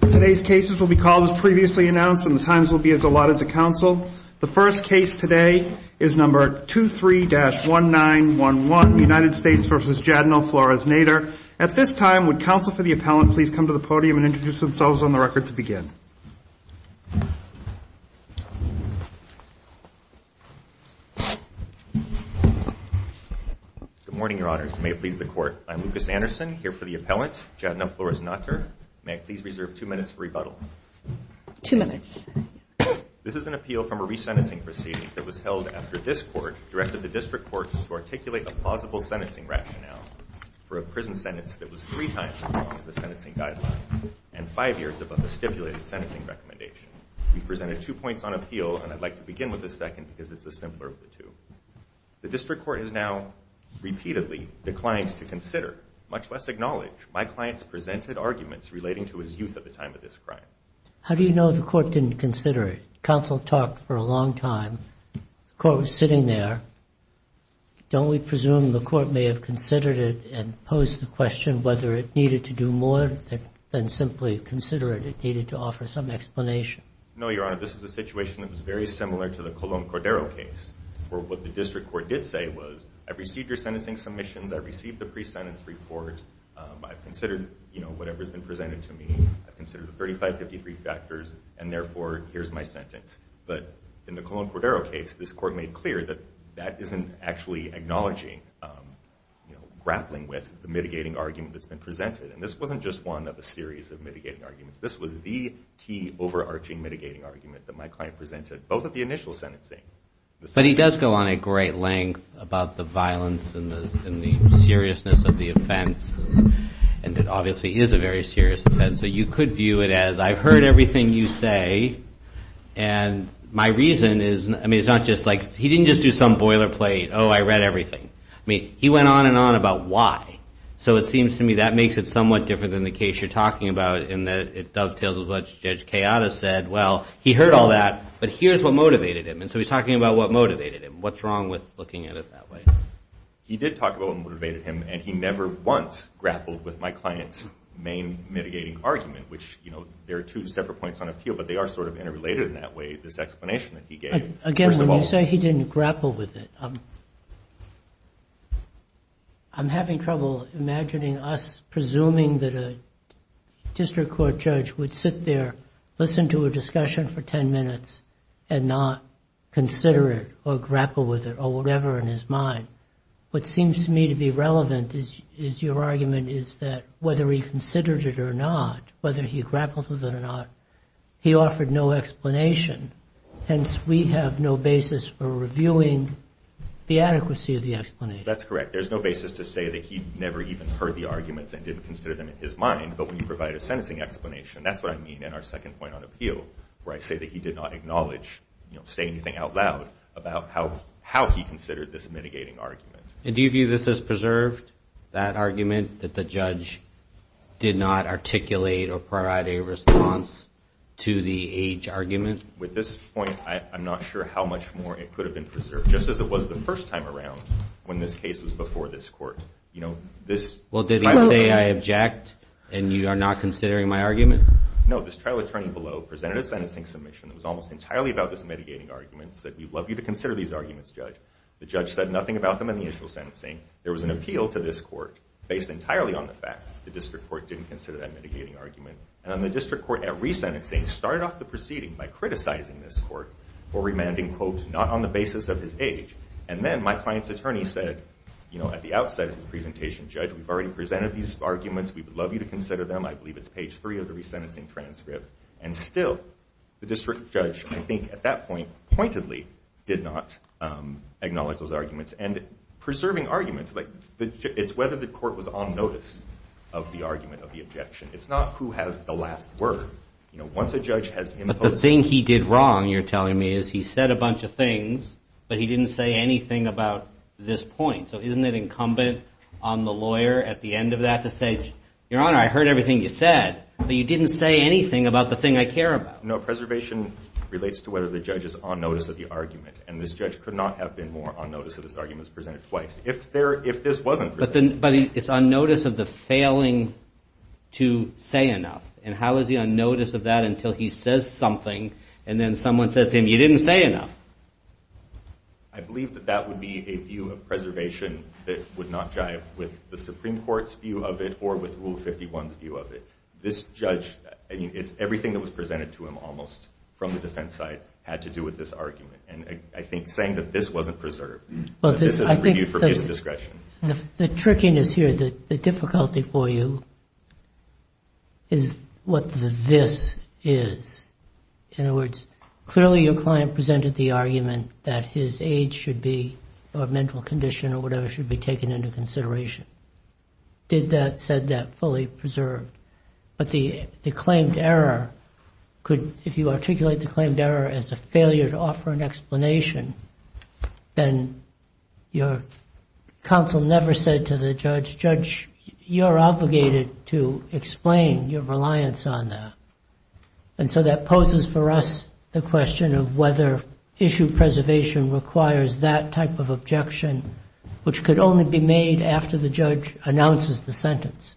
Today's cases will be called as previously announced and the times will be as allotted to counsel. The first case today is number 23-1911, United States v. Jadna Flores-Nater. At this time, would counsel for the appellant please come to the podium and introduce themselves on the record to begin. Good morning, Your Honors. May it please the Court. I'm Lucas Anderson, here for the appellant, Jadna Flores-Nater. May it please reserve two minutes for rebuttal. Two minutes. This is an appeal from a resentencing proceeding that was held after this Court directed the District Court to articulate a plausible sentencing rationale for a prison sentence that was three times as long as the sentencing guidelines and five years above the stipulated sentencing recommendation. We've presented two points on appeal and I'd like to begin with the second because it's the simpler of the two. The District Court has now repeatedly declined to consider, much less acknowledge, my client's presented arguments relating to his youth at the time of this crime. How do you know the Court didn't consider it? Counsel talked for a long time. The Court was sitting there. Don't we presume the Court may have considered it and posed the question whether it needed to do more than simply consider it? It needed to offer some explanation. No, Your Honor. This is a situation that was very similar to the Colon Cordero case, where what the District Court did say was, I received your sentencing submissions. I received the pre-sentence report. I've considered, you know, I've considered the 3553 factors and, therefore, here's my sentence. But in the Colon Cordero case, this Court made clear that that isn't actually acknowledging, you know, grappling with the mitigating argument that's been presented. And this wasn't just one of a series of mitigating arguments. This was the key overarching mitigating argument that my client presented, both of the initial sentencing. But he does go on a great length about the violence and the seriousness of the offense. And it obviously is a very serious offense. So you could view it as, I've heard everything you say. And my reason is, I mean, it's not just like, he didn't just do some boilerplate, oh, I read everything. I mean, he went on and on about why. So it seems to me that makes it somewhat different than the case you're talking about in that it dovetails with what Judge Kayada said. Well, he heard all that, but here's what motivated him. And so he's talking about what motivated him. What's wrong with looking at it that way? He did talk about what motivated him, and he never once grappled with my client's main mitigating argument, which, you know, there are two separate points on appeal, but they are sort of interrelated in that way, this explanation that he gave. Again, when you say he didn't grapple with it, I'm having trouble imagining us presuming that a district court judge would sit there, listen to a discussion for 10 minutes, and not consider it or grapple with it or whatever in his mind. What seems to me to be relevant is your argument is that whether he considered it or not, whether he grappled with it or not, he offered no explanation. Hence, we have no basis for reviewing the adequacy of the explanation. That's correct. There's no basis to say that he never even heard the arguments and didn't consider them in his mind. But when you provide a sentencing explanation, that's what I mean in our second point on appeal, where I say that he did not acknowledge, you know, say anything out loud about how he considered this mitigating argument. And do you view this as preserved, that argument that the judge did not articulate or provide a response to the age argument? With this point, I'm not sure how much more it could have been preserved, just as it was the first time around when this case was before this court. You know, this trial attorney Well, did he say, I object, and you are not considering my argument? No. This trial attorney below presented a sentencing submission that was almost entirely about this mitigating argument, said, we'd love you to consider these arguments, Judge. The judge said nothing about them in the initial sentencing. There was an appeal to this court based entirely on the fact that the district court didn't consider that mitigating argument. And then the district court at resentencing started off the proceeding by criticizing this court for remanding, quote, not on the basis of his age. And then my client's attorney said, you know, at the outset of his presentation, Judge, we've already presented these arguments. We would love you to consider them. I believe it's page three of the resentencing transcript. And still, the district judge, I think, at that point, pointedly did not acknowledge those arguments. And preserving arguments, like, it's whether the court was on notice of the argument, of the objection. It's not who has the last word. You know, once a judge has imposed But the thing he did wrong, you're telling me, is he said a bunch of things, but he didn't say anything about this point. So isn't it incumbent on the lawyer at the end of that to say, Your Honor, I heard everything you said, but you didn't say anything about the thing I care about. No, preservation relates to whether the judge is on notice of the argument. And this judge could not have been more on notice of his arguments presented twice. If this wasn't presented twice. But it's on notice of the failing to say enough. And how is he on notice of that until he says something, and then someone says to him, you didn't say enough? I believe that that would be a view of preservation that would not jive with the Supreme Court's view of it, or with Rule 51's view of it. This judge, it's everything that was presented to him, almost, from the defense side, had to do with this argument. And I think saying that this wasn't preserved, this is a review for peace of discretion. The trickiness here, the difficulty for you, is what the this is. In other words, clearly your client presented the argument that his age should be, or mental condition, or whatever, should be taken into consideration. Did that, said that, fully preserved. But the claimed error, if you articulate the claimed error as a failure to offer an explanation, then your counsel never said to the judge, judge, you're obligated to explain your reliance on that. And so that poses for us the question of whether issue preservation requires that type of objection, which could only be made after the judge announces the sentence.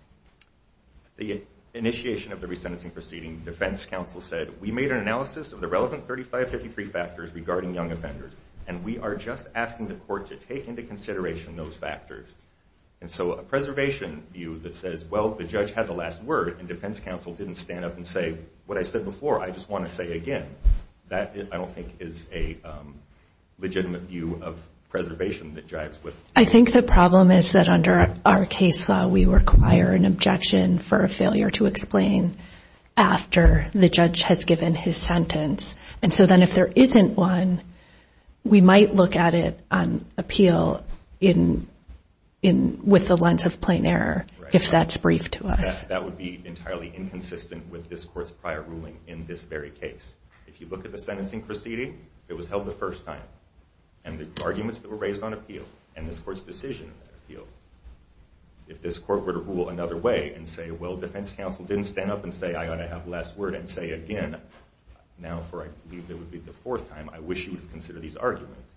The initiation of the resentencing proceeding, defense counsel said, we made an analysis of the relevant 3533 factors regarding young offenders, and we are just asking the court to take into consideration those factors. And so a preservation view that says, well, the judge had the last word, and defense counsel didn't stand up and say, what I said before, I just want to say again, that I don't think is a legitimate view of preservation that jives with. I think the problem is that under our case law, we require an objection for a failure to explain after the judge has given his sentence. And so then if there isn't one, we might look at it on appeal with the lens of plain error, if that's brief to us. That would be entirely inconsistent with this court's prior ruling in this very case. If you look at the sentencing proceeding, it was held the first time. And the arguments that were raised on appeal, and this court's decision on appeal, if this court were to rule another way and say, well, defense counsel didn't stand up and say, I ought to have last word and say again, now for I believe it would be the fourth time, I wish you would consider these arguments,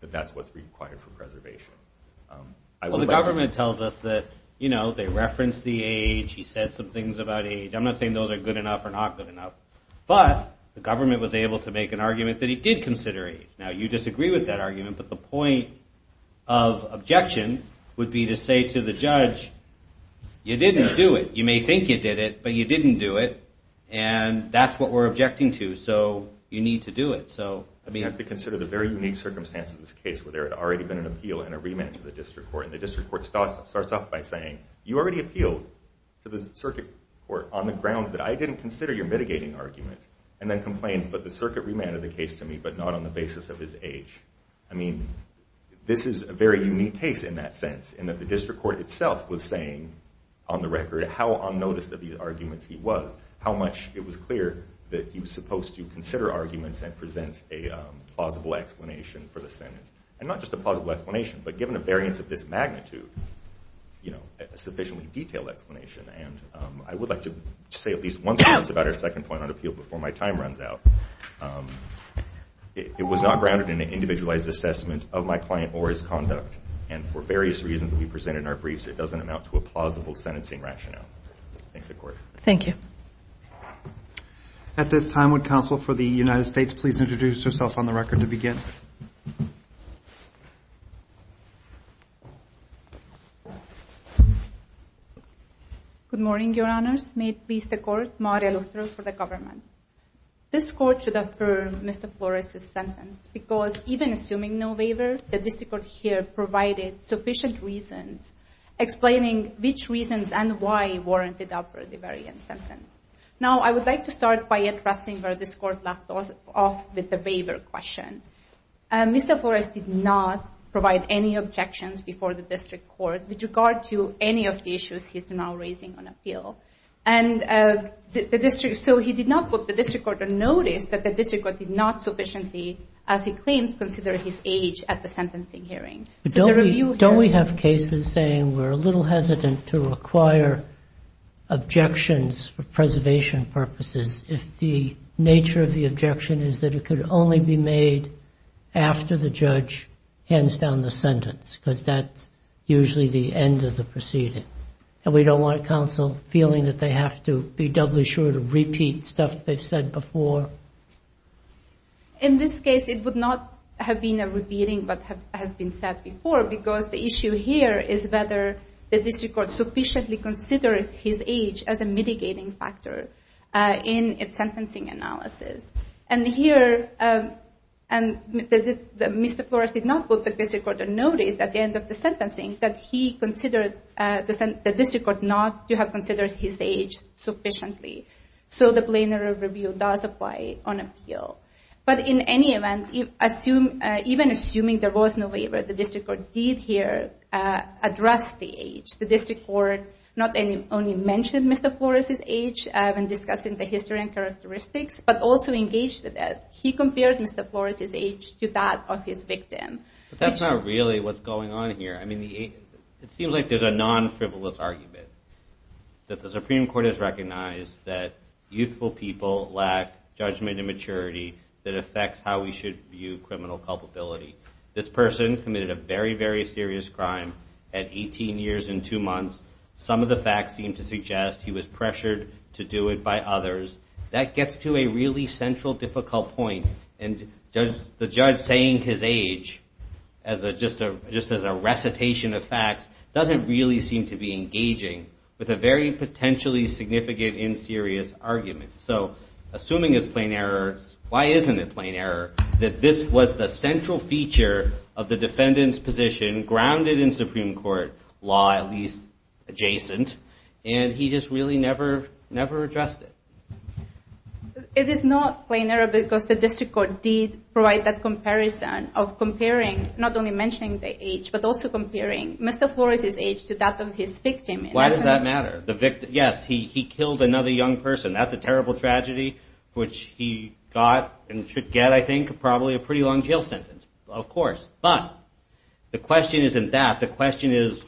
that that's what's required for preservation. Well, the government tells us that they reference the age. He said some things about age. I'm not saying those are good enough or not good enough. But the government was able to make an argument that he did consider age. Now, you disagree with that argument, but the point of objection would be to say to the judge, you didn't do it. You may think you did it, but you didn't do it. And that's what we're objecting to. So you need to do it. I mean, I have to consider the very unique circumstances of this case where there had already been an appeal and a remand to the district court. And the district court starts off by saying, you already appealed to the circuit court on the grounds that I didn't consider your mitigating argument, and then complains, but the circuit remanded the case to me, but not on the basis of his age. I mean, this is a very unique case in that sense, in that the district court itself was saying, on the record, how unnoticed of the arguments he was, how much it was clear that he was supposed to consider arguments and present a plausible explanation for the sentence. And not just a plausible explanation, but given a variance of this magnitude, a sufficiently detailed explanation. And I would like to say at least one sentence about our second point on appeal before my time runs out. It was not grounded in an individualized assessment of my client or his conduct. And for various reasons that we presented in our briefs, it doesn't amount to a plausible sentencing rationale. Thanks, the court. Thank you. At this time, would counsel for the United States please introduce herself on the record to begin? Good morning, your honors. May it please the court, Maria Luther for the government. This court should affirm Mr. Flores' sentence, because even assuming no waiver, the district court here provided sufficient reasons explaining which reasons and why warranted up for the variance sentence. Now, I would like to start by addressing where this court left off with the waiver question. Mr. Flores did not provide any objections before the district court with regard to any of the issues he's now raising on appeal. And the district, so he did not put the district court to notice that the district court did not sufficiently, as he was hearing. Don't we have cases saying we're a little hesitant to require objections for preservation purposes if the nature of the objection is that it could only be made after the judge hands down the sentence, because that's usually the end of the proceeding. And we don't want counsel feeling that they have to be doubly sure to repeat stuff they've said before? In this case, it would not have been a repeating of what has been said before, because the issue here is whether the district court sufficiently considered his age as a mitigating factor in its sentencing analysis. And here, Mr. Flores did not put the district court to notice at the end of the sentencing that he considered the district court not to have considered his age sufficiently. So the plenary review does apply on appeal. But in any event, even assuming there was no waiver, the district court did here address the age. The district court not only mentioned Mr. Flores' age when discussing the history and characteristics, but also engaged with it. He compared Mr. Flores' age to that of his victim. But that's not really what's going on here. I mean, it seems like there's a non-frivolous argument that the Supreme Court has recognized that youthful people lack judgment and maturity that affects how we should view criminal culpability. This person committed a very, very serious crime at 18 years and two months. Some of the facts seem to suggest he was pressured to do it by others. That gets to a really central difficult point. And the judge saying his age, just as a recitation of facts, doesn't really seem to be engaging with a very potentially significant and serious argument. So, assuming it's plain error, why isn't it plain error that this was the central feature of the defendant's position grounded in Supreme Court law, at least adjacent, and he just really never addressed it? It is not plain error because the district court did provide that comparison of comparing, not only mentioning the age, but also comparing Mr. Flores' age to that of his victim. Why does that matter? Yes, he killed another young person. That's a terrible tragedy, which he got and should get, I think, probably a pretty long jail sentence. Of course. But the question isn't that. The question is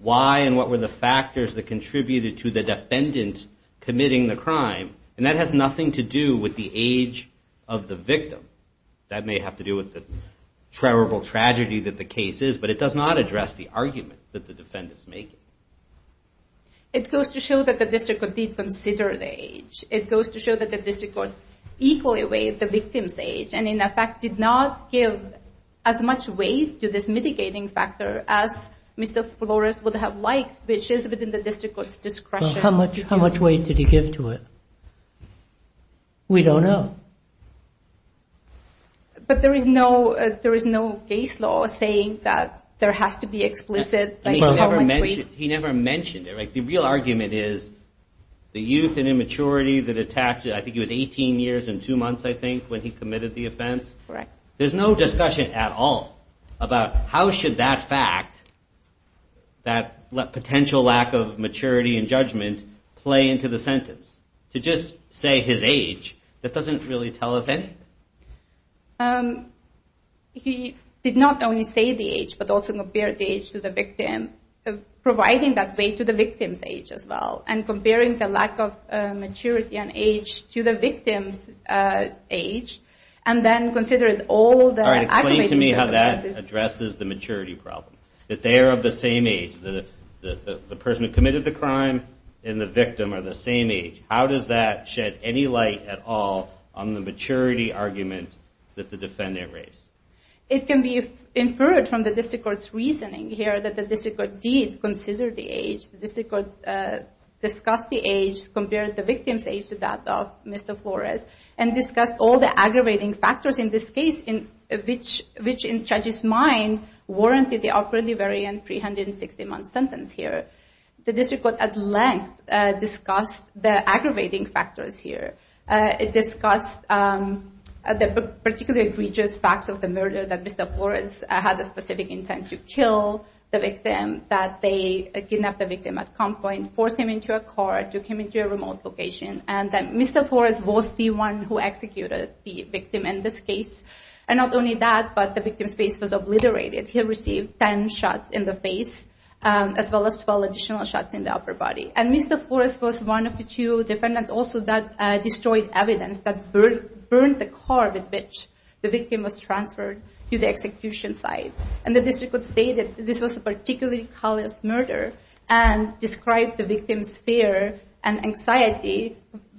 why and what were the factors that contributed to the defendant committing the crime? And that has nothing to do with the age of the victim. That may have to do with the terrible tragedy that the case is, but it does not address the argument that the defendant is making. It goes to show that the district court did consider the age. It goes to show that the district court equally weighed the victim's age and, in effect, did not give as much weight to this mitigating factor as Mr. Flores would have liked, which is within the district court's discretion. How much weight did he give to it? We don't know. But there is no case law saying that there has to be explicit, like, how much weight? He never mentioned it. Like, the real argument is the youth and immaturity that attacked him. I think he was 18 years and two months, I think, when he committed the offense. Correct. There's no discussion at all about how should that fact, that potential lack of maturity and judgment, play into the sentence. To just say his age, that doesn't really tell us anything. He did not only say the age, but also compared the age to the victim, providing that weight to the victim's age as well, and comparing the lack of maturity and age to the victim's age, and then considered all the aggravating circumstances. All right, explain to me how that addresses the maturity problem, that they are of the same age. The person who committed the crime and the victim are the same age. How does that shed any light at all on the maturity argument that the defendant raised? It can be inferred from the district court's reasoning here that the district court did consider the age. The district court discussed the age, compared the victim's age to that of Mr. Flores, and discussed all the aggravating factors in this case, which in the judge's mind, warranted the operative variant, 360-month sentence here. The district court, at length, discussed the aggravating factors here. It discussed the particularly egregious facts of the murder, that Mr. Flores had a specific intent to kill the victim, that they kidnapped the victim at gunpoint, forced him into a car, took him into a remote location, and that Mr. Flores was the one who executed the victim in this case. Not only that, but the victim's face was obliterated. He received 10 shots in the face, as well as 12 additional shots in the upper body. Mr. Flores was one of the two defendants also that destroyed evidence that burned the car with which the victim was transferred to the execution site. The district court stated this was a particularly callous murder, and described the victim's fear and anxiety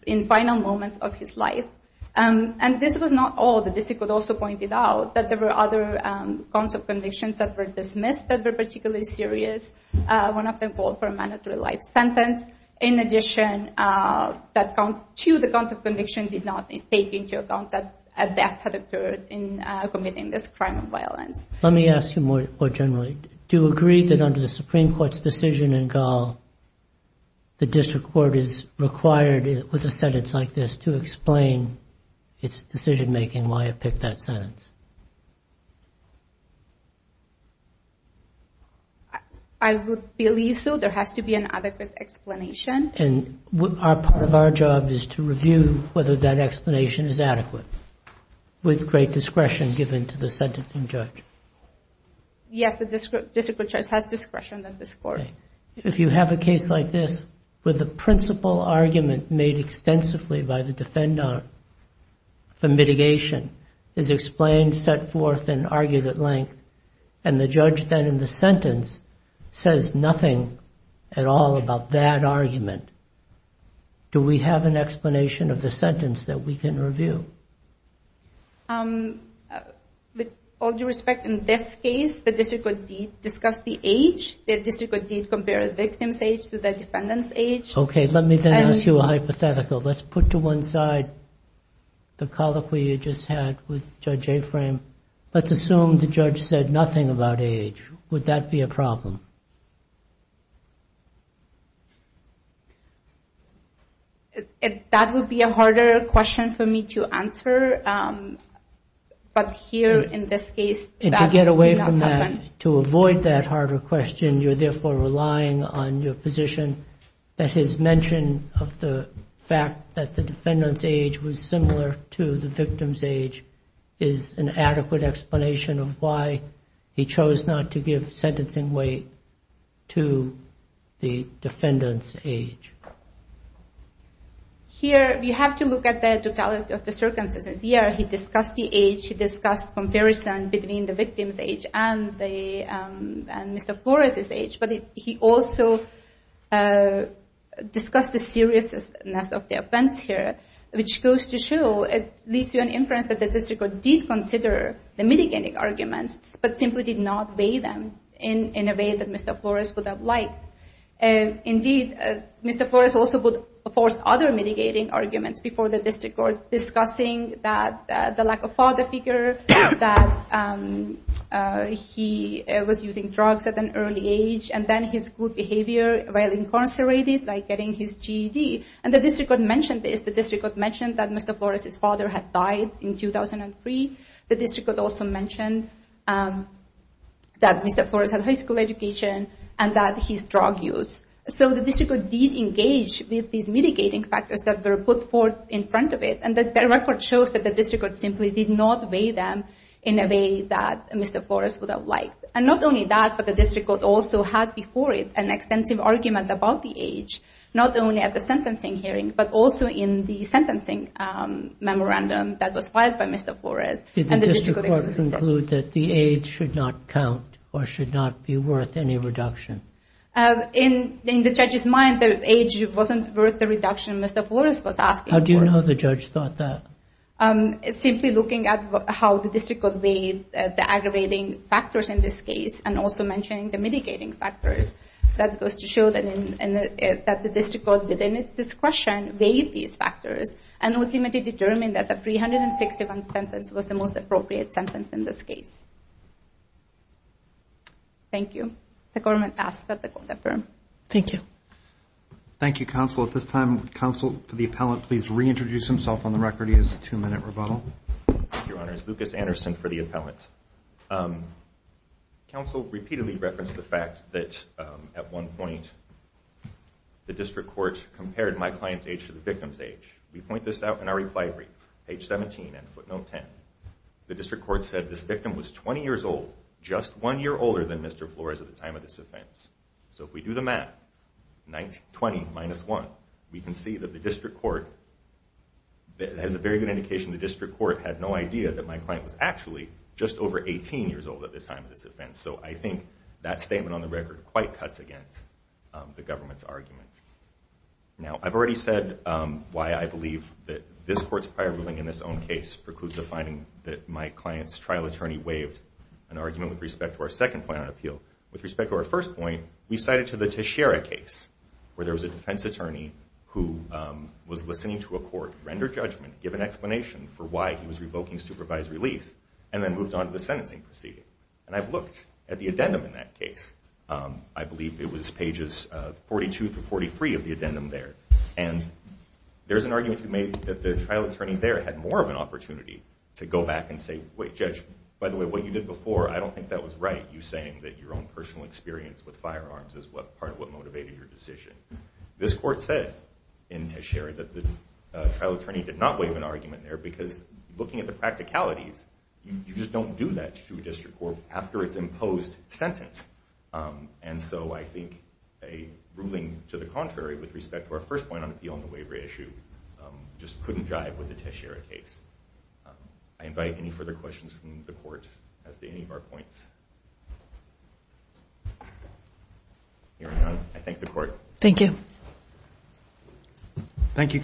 in the final moments of his life. This was not all. The district court also pointed out that there were other counts of convictions that were dismissed that were particularly serious. One of them called for a mandatory life sentence. In addition, that count two, the count of conviction, did not take into account that a death had occurred in committing this crime of violence. Let me ask you more generally. Do you agree that under the Supreme Court's decision in Gall, the district court is required, with a sentence like this, to explain its decision making, why it picked that sentence? I would believe so. There has to be an adequate explanation. And part of our job is to review whether that explanation is adequate, with great discretion given to the sentencing judge. Yes, the district court judge has discretion in this court. If you have a case like this, with a principal argument made extensively by the defendant for mitigation, is explained, set forth, and argued at length, and the judge then in the sentence says nothing at all about that argument, do we have an explanation of the sentence that we can review? With all due respect, in this case, the district court did discuss the age. The district court did compare the victim's age to the defendant's age. Okay, let me then ask you a hypothetical. Let's put to one side the colloquy you just had with Judge Aframe. Let's assume the judge said nothing about age. Would that be a problem? That would be a harder question for me to answer. But here, in this case, that did not And to get away from that, to avoid that harder question, you're therefore relying on your position that his mention of the fact that the defendant's age was similar to the victim's age is an adequate explanation of why he chose not to give sentencing weight to the victim. to the defendant's age. Here, we have to look at the totality of the circumstances. Here, he discussed the age, he discussed comparison between the victim's age and Mr. Flores' age, but he also discussed the seriousness of the offense here, which goes to show, it leads to an inference that the district court did consider the mitigating arguments, but simply did not weigh them in a way that Mr. Flores would have liked. Indeed, Mr. Flores also put forth other mitigating arguments before the district court, discussing the lack of father figure, that he was using drugs at an early age, and then his school behavior while incarcerated, like getting his GED. And the district court mentioned this, the district court mentioned that Mr. Flores' father had died in 2003, the district court also mentioned that Mr. Flores had a high school education, and that he's drug use. So the district court did engage with these mitigating factors that were put forth in front of it, and the record shows that the district court simply did not weigh them in a way that Mr. Flores would have liked. And not only that, but the district court also had before it an extensive argument about the age, not only at the sentencing hearing, but also in the sentencing memorandum that was filed by Mr. Flores. Did the district court conclude that the age should not count, or should not be worth any reduction? In the judge's mind, the age wasn't worth the reduction Mr. Flores was asking for. How do you know the judge thought that? Simply looking at how the district court weighed the aggravating factors in this case, and also mentioning the mitigating factors, that goes to show that the district court within its discretion weighed these factors, and ultimately determined that the 361 sentence was the most appropriate sentence in this case. Thank you. The government asks that the court affirm. Thank you, counsel. At this time, would counsel for the appellant please reintroduce himself on the record? He has a two minute rebuttal. Your Honor, it's Lucas Anderson for the appellant. Counsel repeatedly referenced the fact that at one point, the district court compared my client's age to the victim's age. We point this out in our reply brief, page 17 and footnote 10. The district court said this victim was 20 years old, just one year older than Mr. Flores at the time of this offense. So if we do the math, 20 minus 1, we can see that the district court, it has a very good indication the district court had no idea that my client was actually just over 18 years old at the time of this offense. So I think that statement on the record quite cuts against the government's argument. Now, I've already said why I believe that this court's prior ruling in this own case precludes the finding that my client's trial attorney waived an argument with respect to our second point on appeal. With respect to our first point, we cited to the Teixeira case where there was a defense attorney who was listening to a court render judgment, give an explanation for why he was revoking supervised release, and then moved on to the sentencing proceeding. And I've looked at the addendum in that case. I believe it was pages 42 through 43 of the addendum there. And there's an argument to make that the trial attorney there had more of an opportunity to go back and say, wait, Judge, by the way, what you did before, I don't think that was right, you saying that your own personal experience with firearms is part of what motivated your decision. This court said in Teixeira that the trial attorney did not waive an argument there because looking at the practicalities, you just don't do that to a district court after its imposed sentence. And so I think a ruling to the contrary with respect to our first point on appeal and the waiver issue just couldn't jive with the Teixeira case. I invite any further questions from the court as to any of our points. Hearing none, I thank the court. Thank you.